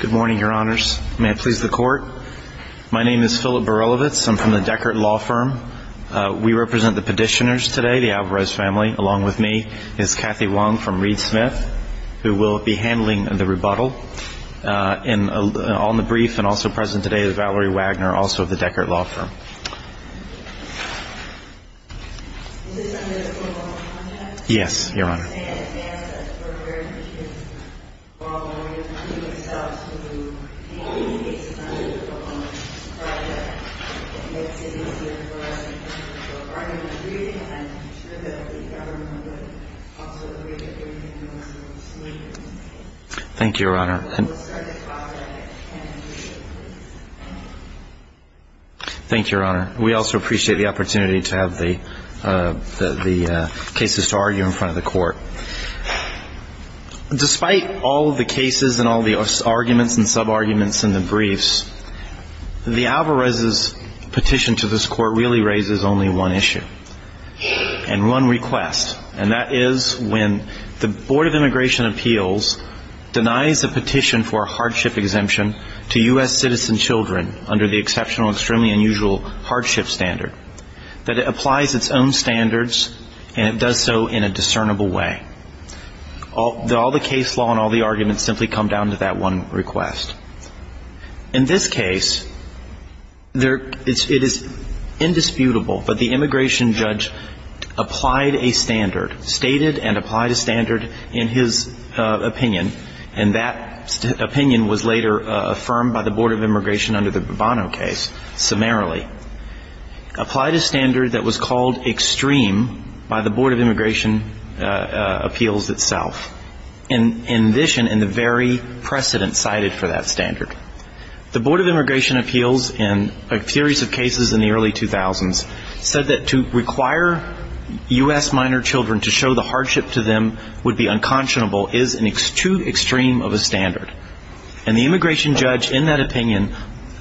Good morning, your honors. May I please the court? My name is Philip Barilovitz. I'm from the Deckert Law Firm. We represent the petitioners today, the Alvarez family, along with me is Kathy Wong from Reed Smith, who will be handling the rebuttal. On the brief and also present today is Valerie Wagner, also of the Deckert Law Firm. Yes, your honor. Thank you, your honor. Thank you, your honor. We also appreciate the opportunity to have the cases to argue in front of the court. Despite all of the cases and all of the arguments and sub-arguments in the briefs, the Alvarez's petition to this court really raises only one issue. And one request. And that is when the Board of Immigration Appeals denies a petition for a hardship exemption to U.S. citizen children under the exceptional, extremely unusual hardship standard, that it applies its own standards and it does so in a discernible way. All the case law and all the arguments simply come down to that one request. In this case, it is indisputable, but the immigration judge applied a standard, stated and applied a standard in his opinion, and that opinion was later affirmed by the Board of Immigration under the Bovano case, summarily. Applied a standard that was called extreme by the Board of Immigration Appeals itself. In addition, in the very precedent cited for that standard, the Board of Immigration Appeals in a series of cases in the early 2000s said that to require U.S. minor children to show the hardship to them would be unconscionable is too extreme of a standard. And the immigration judge in that opinion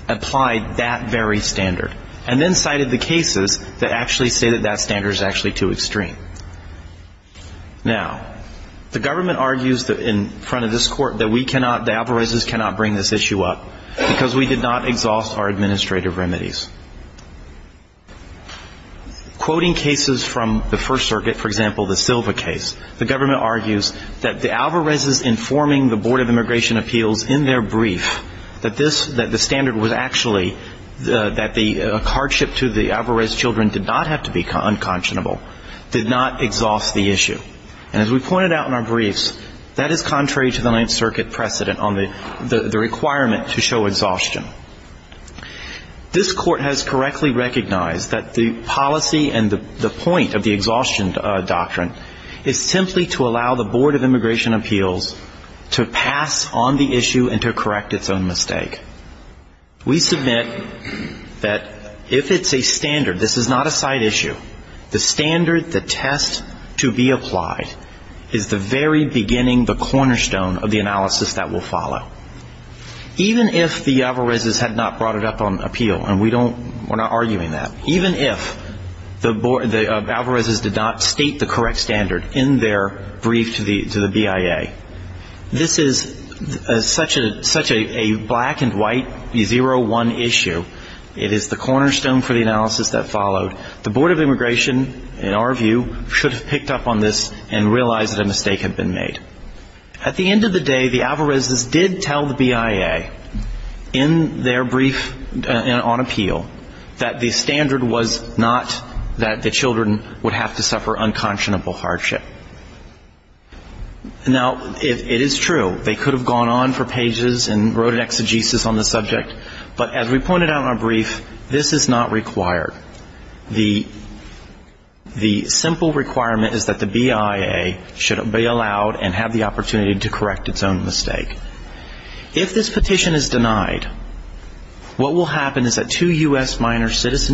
applied that very standard. And then cited the cases that actually say that that standard is actually too extreme. Now, the government argues in front of this Court that we cannot, the Alvarez's cannot bring this issue up, because we did not exhaust our administrative remedies. Quoting cases from the First Circuit, for example, the Silva case, the government argues that the Alvarez's informing the Board of Immigration Appeals in their brief that this, that the standard was actually, that the hardship to the issue. And as we pointed out in our briefs, that is contrary to the Ninth Circuit precedent on the requirement to show exhaustion. This Court has correctly recognized that the policy and the point of the exhaustion doctrine is simply to allow the Board of Immigration Appeals to pass on the issue and to correct its own mistake. We submit that if it's a standard, this is not a side issue, the standard, the test to be applied, is the very beginning, the cornerstone of the analysis that will follow. Even if the Alvarez's had not brought it up on appeal, and we don't, we're not arguing that, even if the Alvarez's did not state the correct standard in their brief to the BIA, this is such a black and white zero-one issue. It is the cornerstone for the analysis that followed. The Board of Immigration, in our view, should have picked up on this and realized that a mistake had been made. At the end of the day, the Alvarez's did tell the BIA in their brief on appeal that the standard was not that the children would have to suffer unconscionable hardship. Now, it is true, they could have gone on for pages and wrote an exegesis on the subject, but as we pointed out in our brief, this is not required. The simple requirement is that the BIA should be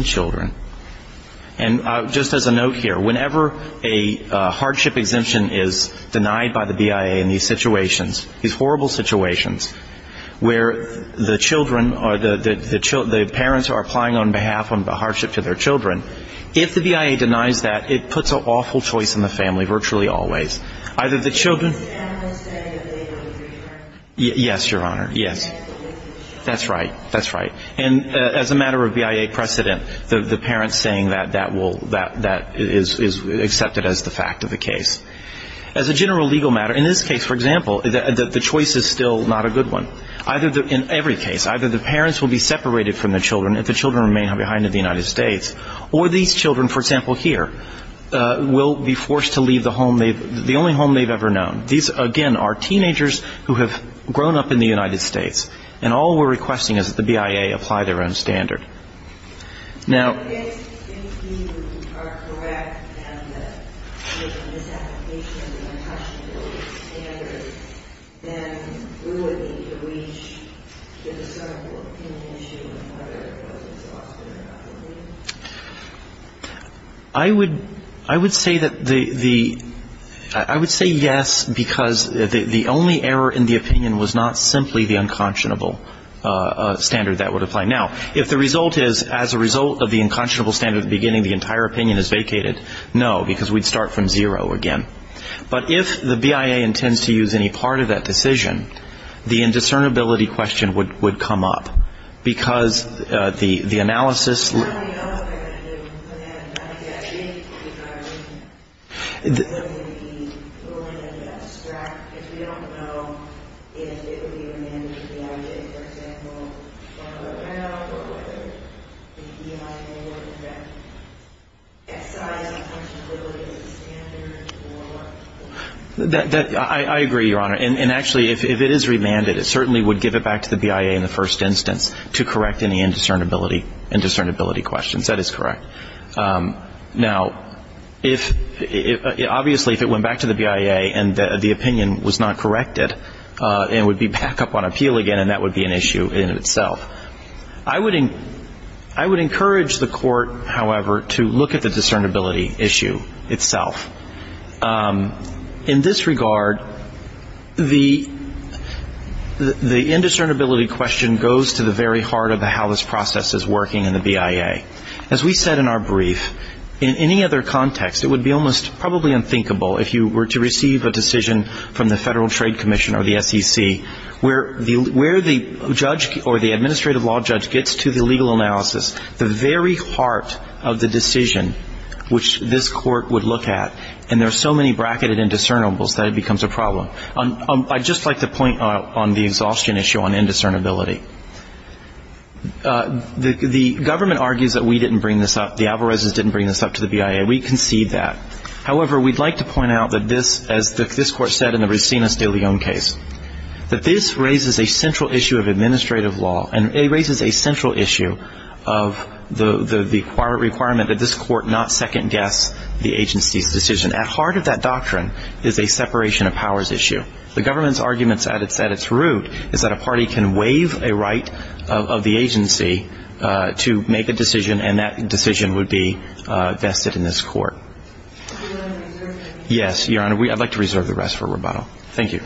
children. And just as a note here, whenever a hardship exemption is denied by the BIA in these situations, these horrible situations, where the children or the parents are applying on behalf of the hardship to their children, if the BIA denies that, it puts an awful choice in the family, the parents saying that is accepted as the fact of the case. As a general legal matter, in this case, for example, the choice is still not a good one. In every case, either the parents will be separated from the children if the children remain behind in the United States, or these children, for example, here, will be forced to leave the only home they've ever known. These, again, are teenagers who have grown up in the United States, and all we're requesting is that the BIA apply their own standard. Now ‑‑ I would say that the ‑‑ I would say yes, because the only error in the opinion was not simply the unconscionable. The only error in the opinion is a standard that would apply. Now, if the result is, as a result of the unconscionable standard at the beginning, the entire opinion is vacated, no, because we'd start from zero again. But if the BIA intends to use any part of that decision, the indiscernibility question would come up, because the analysis ‑‑ I agree, Your Honor. And actually, if it is remanded, it certainly would give it back to the BIA in the first instance to correct any indiscernibility questions. That is correct. Now, if ‑‑ obviously, if it went back to the BIA and the opinion was not corrected, it would be back up on appeal again, and that would be an issue in itself. I would encourage the Court, however, to look at the discernibility issue itself. In this regard, the indiscernibility question goes to the very heart of how this process is working, and I think it's important that the BIA and the BIA. As we said in our brief, in any other context, it would be almost probably unthinkable, if you were to receive a decision from the Federal Trade Commission or the SEC, where the judge or the administrative law judge gets to the legal analysis, the very heart of the decision, which this Court would look at, and there are so many bracketed indiscernibles, that it becomes a problem. I'd just like to point out on the exhaustion issue on indiscernibility. The government argues that we didn't bring this up. The Alvarezes didn't bring this up to the BIA. We concede that. However, we'd like to point out that this, as this Court said in the Rosinas de Leon case, that this raises a central issue of administrative law, and it raises a central issue of the requirement that this Court not second guess the agency's decision. At heart of that doctrine is a separation of powers issue. The government's arguments at its root is that a party can waive a right of the agency to make a decision, and that decision would be vested in this Court. Yes, Your Honor, I'd like to reserve the rest for rebuttal. Thank you.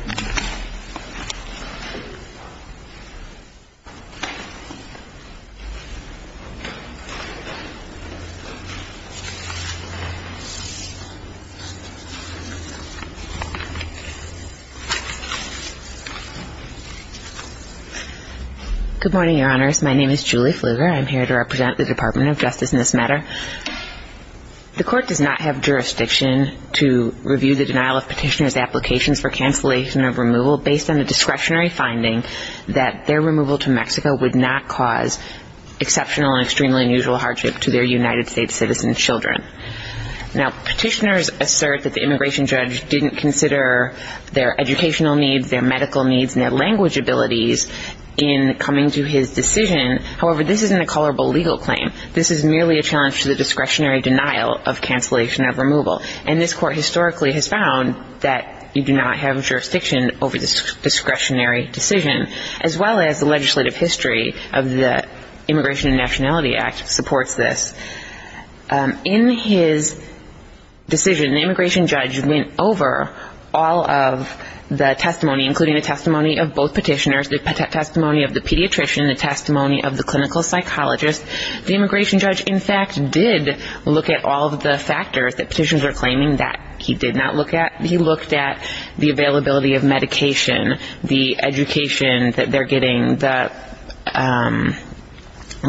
Good morning, Your Honors. My name is Julie Fluger. I'm here to represent the Department of Justice in this matter. The Court does not have jurisdiction to review the denial of petitioner's applications for cancellation of removal based on the discretionary finding that their removal to Mexico would not cause exceptional and extremely unusual hardship to their United States citizen children. Now, petitioners are often assert that the immigration judge didn't consider their educational needs, their medical needs, and their language abilities in coming to his decision. However, this isn't a colorable legal claim. This is merely a challenge to the discretionary denial of cancellation of removal, and this Court historically has found that you do not have jurisdiction over this discretionary decision, as well as the legislative history of the Immigration and Nationality Act supports this. In his decision, the immigration judge did not consider the availability of medication, the education that they're getting,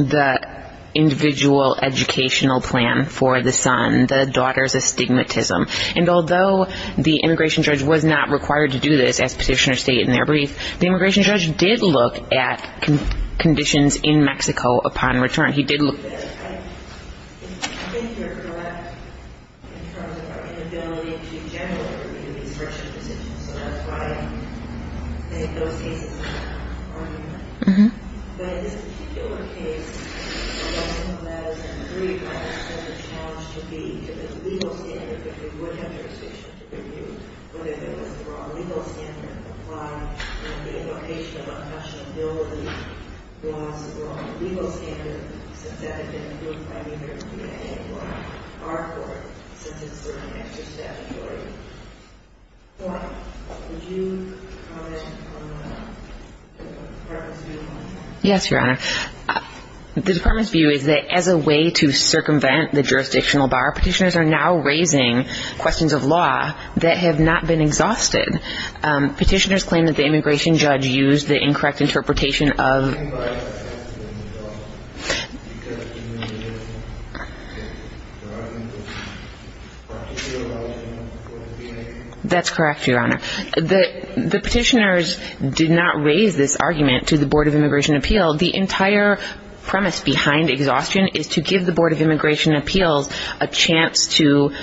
the individual educational plan for the son, the daughter's education, and the stigma of stigmatism. And although the immigration judge was not required to do this, as petitioners state in their brief, the immigration judge did look at conditions in Mexico upon return. He did look at... I think you're correct in terms of our inability to generally review these discretionary decisions, so that's why I think those cases are arguable. But in this particular case, it wasn't as agreed by a separate challenge to the legal system as it is in this particular case. It was a standard that they would have jurisdiction to review, but if it was a wrong legal standard applied and the invocation of a questionability was a wrong legal standard, since that had been approved by neither the BIA or our Court, since it's certainly extra-statutory. Would you comment on the Department's view on that? Well, the Department's view is that the courts are now raising questions of law that have not been exhausted. Petitioners claim that the immigration judge used the incorrect interpretation of... That's correct, Your Honor. The petitioners did not raise this argument to the Board of Immigration Appeal. The entire premise behind it is to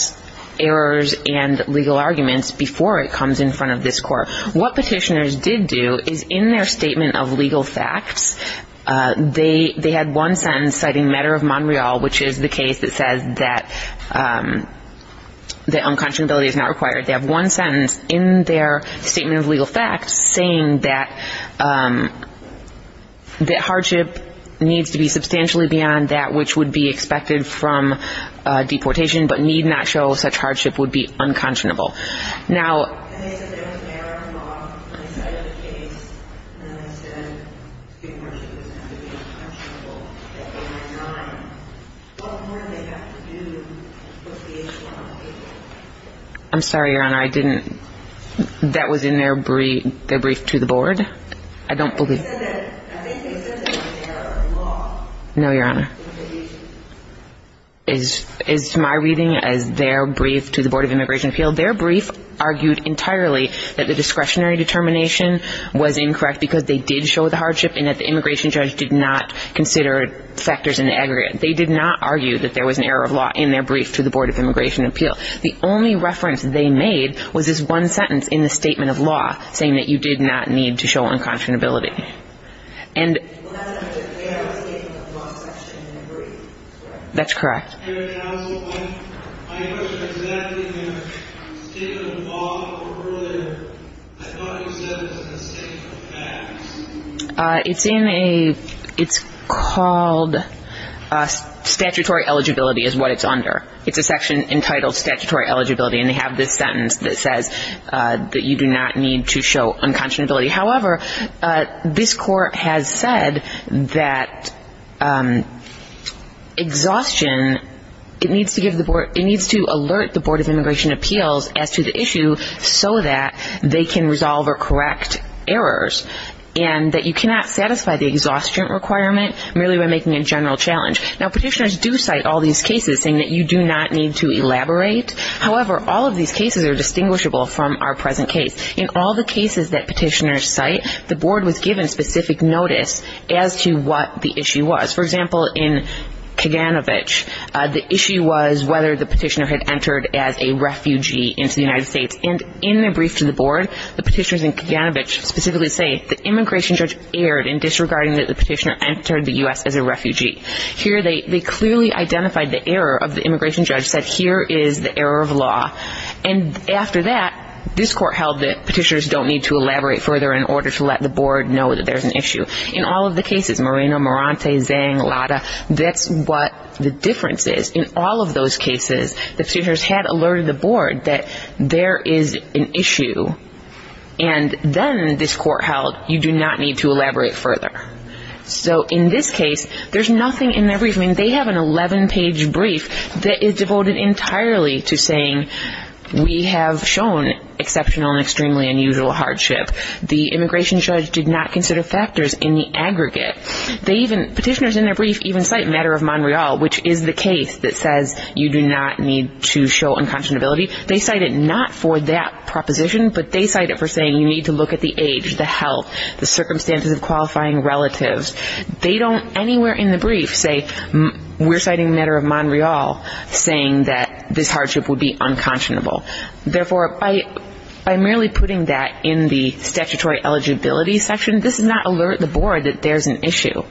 address errors and legal arguments before it comes in front of this Court. What petitioners did do is in their statement of legal facts, they had one sentence citing matter of Montreal, which is the case that says that unconscionability is not required. They have one sentence in their statement of legal facts saying that hardship needs to be substantially beyond that which would be deportation, but need not show such hardship would be unconscionable. Now... I'm sorry, Your Honor, I didn't... That was in their brief to the Board? I don't believe... No, Your Honor. As to my reading, as their brief to the Board of Immigration Appeal, their brief argued entirely that the discretionary determination was incorrect because they did show the hardship and that the immigration judge did not consider factors in the aggregate. They did not argue that there was an error of law in their brief to the Board of Immigration Appeal. The only reference they made was this one sentence in the brief. That's correct. It's in a... It's called statutory eligibility is what it's under. It's a section entitled statutory eligibility, and they have this sentence that says that you do not need to show unconscionability. However, this court has said that exhaustion, it needs to alert the Board of Immigration Appeals as to the issue so that they can resolve or correct errors, and that you cannot satisfy the exhaustion requirement merely by making a general challenge. Now, petitioners do cite all these cases saying that you do not need to elaborate. However, all of these cases are distinguishable from our present case. In all the cases that the Board of Immigration Appeals cite, the Board was given specific notice as to what the issue was. For example, in Kaganovich, the issue was whether the petitioner had entered as a refugee into the United States. And in a brief to the Board, the petitioners in Kaganovich specifically say the immigration judge erred in disregarding that the petitioner entered the U.S. as a refugee. Here they clearly identified the error of the immigration judge, said here is the error of law. And after that, this court held that there is an issue. In all of the cases, Moreno, Morante, Zhang, Lada, that's what the difference is. In all of those cases, the petitioners had alerted the Board that there is an issue. And then this court held you do not need to elaborate further. So in this case, there's nothing in their brief. I mean, they have an 11-page brief that is devoted entirely to saying we have shown exceptional and extremely unusual hardship. The immigration judge did not consider factors in the aggregate. They even, petitioners in their brief even cite matter of Montreal, which is the case that says you do not need to show unconscionability. They cite it not for that proposition, but they cite it for saying you need to look at the age, the health, the circumstances of qualifying relatives. They don't anywhere in the brief say we're citing matter of Montreal, saying that this is an issue. So by merely putting that in the statutory eligibility section, this does not alert the Board that there's an issue.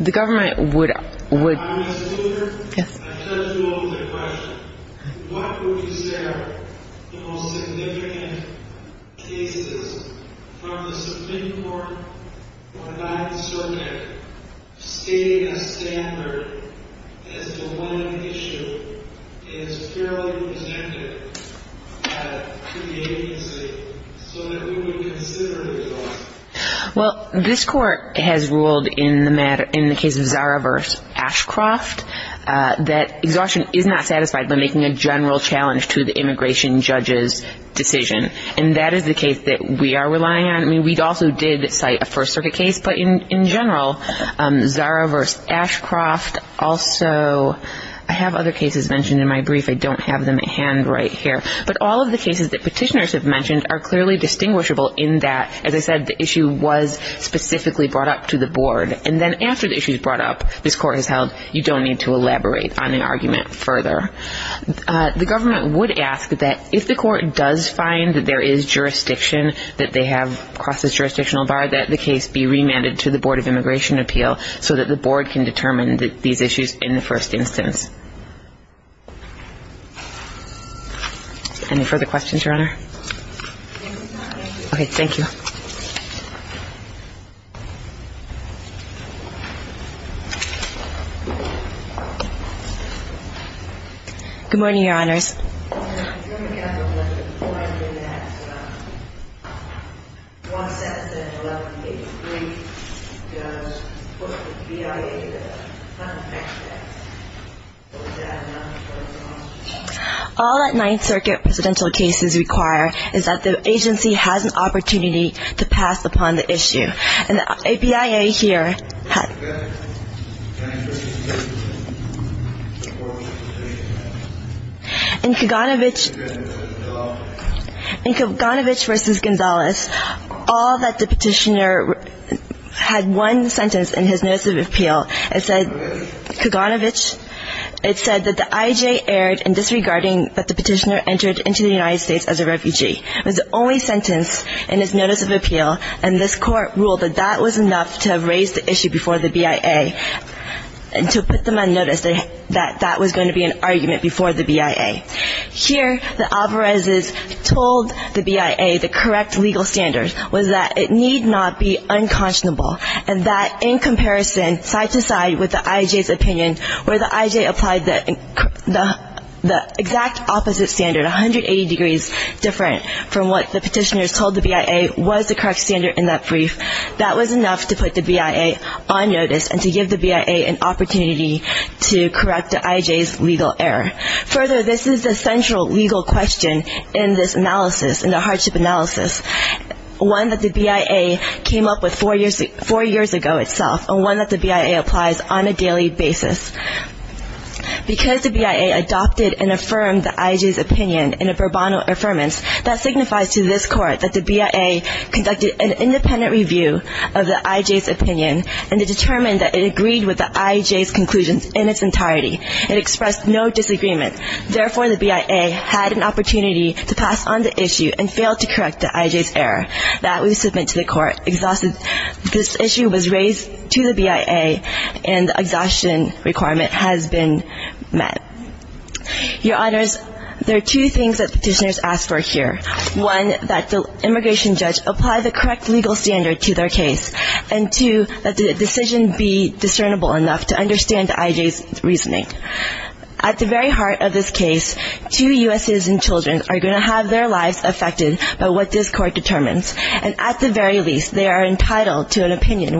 The government would ---- Yes. What would you say are the most significant cases from the subpoena court for the 9th Circuit stating a standard as to when an issue is securely presented to the agency so that we would consider the result? Well, this court has ruled in the case of Zara v. Ashcroft that exhaustion is not satisfied by making a general challenge to the immigration judge's decision. And that is the case that we are relying on. I mean, we also did cite a First Circuit case, but in general, Zara v. Ashcroft also ---- I have other cases mentioned in my brief. I don't know if you've seen them, but I think I don't have them at hand right here. But all of the cases that petitioners have mentioned are clearly distinguishable in that, as I said, the issue was specifically brought up to the Board. And then after the issue is brought up, this court has held you don't need to elaborate on the argument further. The government would ask that if the court does find that there is jurisdiction that they have across this jurisdictional bar, that the case be remanded to the Board of Immigration Appeal so that the Board can determine these cases. Any further questions, Your Honor? Thank you, Your Honor. Okay. Thank you. Good morning, Your Honors. All that Ninth Circuit presidential cases require is that the agency has an opportunity to pass upon the issue. And the APIA here had ---- In Kaganovich v. Gonzales, all that the petitioner had one sentence in his notice of appeal. It said, Kaganovich, it said that the I.J. erred in disregarding that the petitioner entered into the United States as a refugee. It was the only sentence in his notice of appeal, and this court ruled that that was enough to have raised the issue before the BIA and to put them on notice that that was going to be an argument before the BIA. Here, the Alvarez's told the BIA the correct legal standard was that it need not be unconscionable, and that in comparison, side to side with the I.J.'s opinion, where the I.J. applied the same argument, the exact opposite standard, 180 degrees different from what the petitioners told the BIA was the correct standard in that brief, that was enough to put the BIA on notice and to give the BIA an opportunity to correct the I.J.'s legal error. Further, this is the central legal question in this analysis, in the hardship analysis, one that the BIA came up with four years ago itself, and one that the BIA applies on a daily basis. Because the BIA adopted and affirmed the I.J.'s opinion in a pro bono affirmance, that signifies to this court that the BIA conducted an independent review of the I.J.'s opinion, and it determined that it agreed with the I.J.'s conclusions in its entirety. It expressed no disagreement. Therefore, the BIA had an opportunity to pass on the issue, and failed to correct the I.J.'s error. That was submitted to the court, exhausted. This issue was raised in court, and the case to the BIA, and the exhaustion requirement has been met. Your Honors, there are two things that the petitioners asked for here. One, that the immigration judge apply the correct legal standard to their case. And two, that the decision be discernible enough to understand the I.J.'s reasoning. At the very heart of this case, two U.S. citizens children are going to have their lives affected by what this court determines. And at the very least, they are entitled to an opinion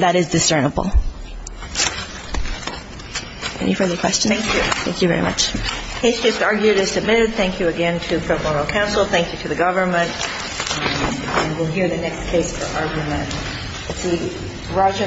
that is discernible. Any further questions? Thank you. Thank you very much.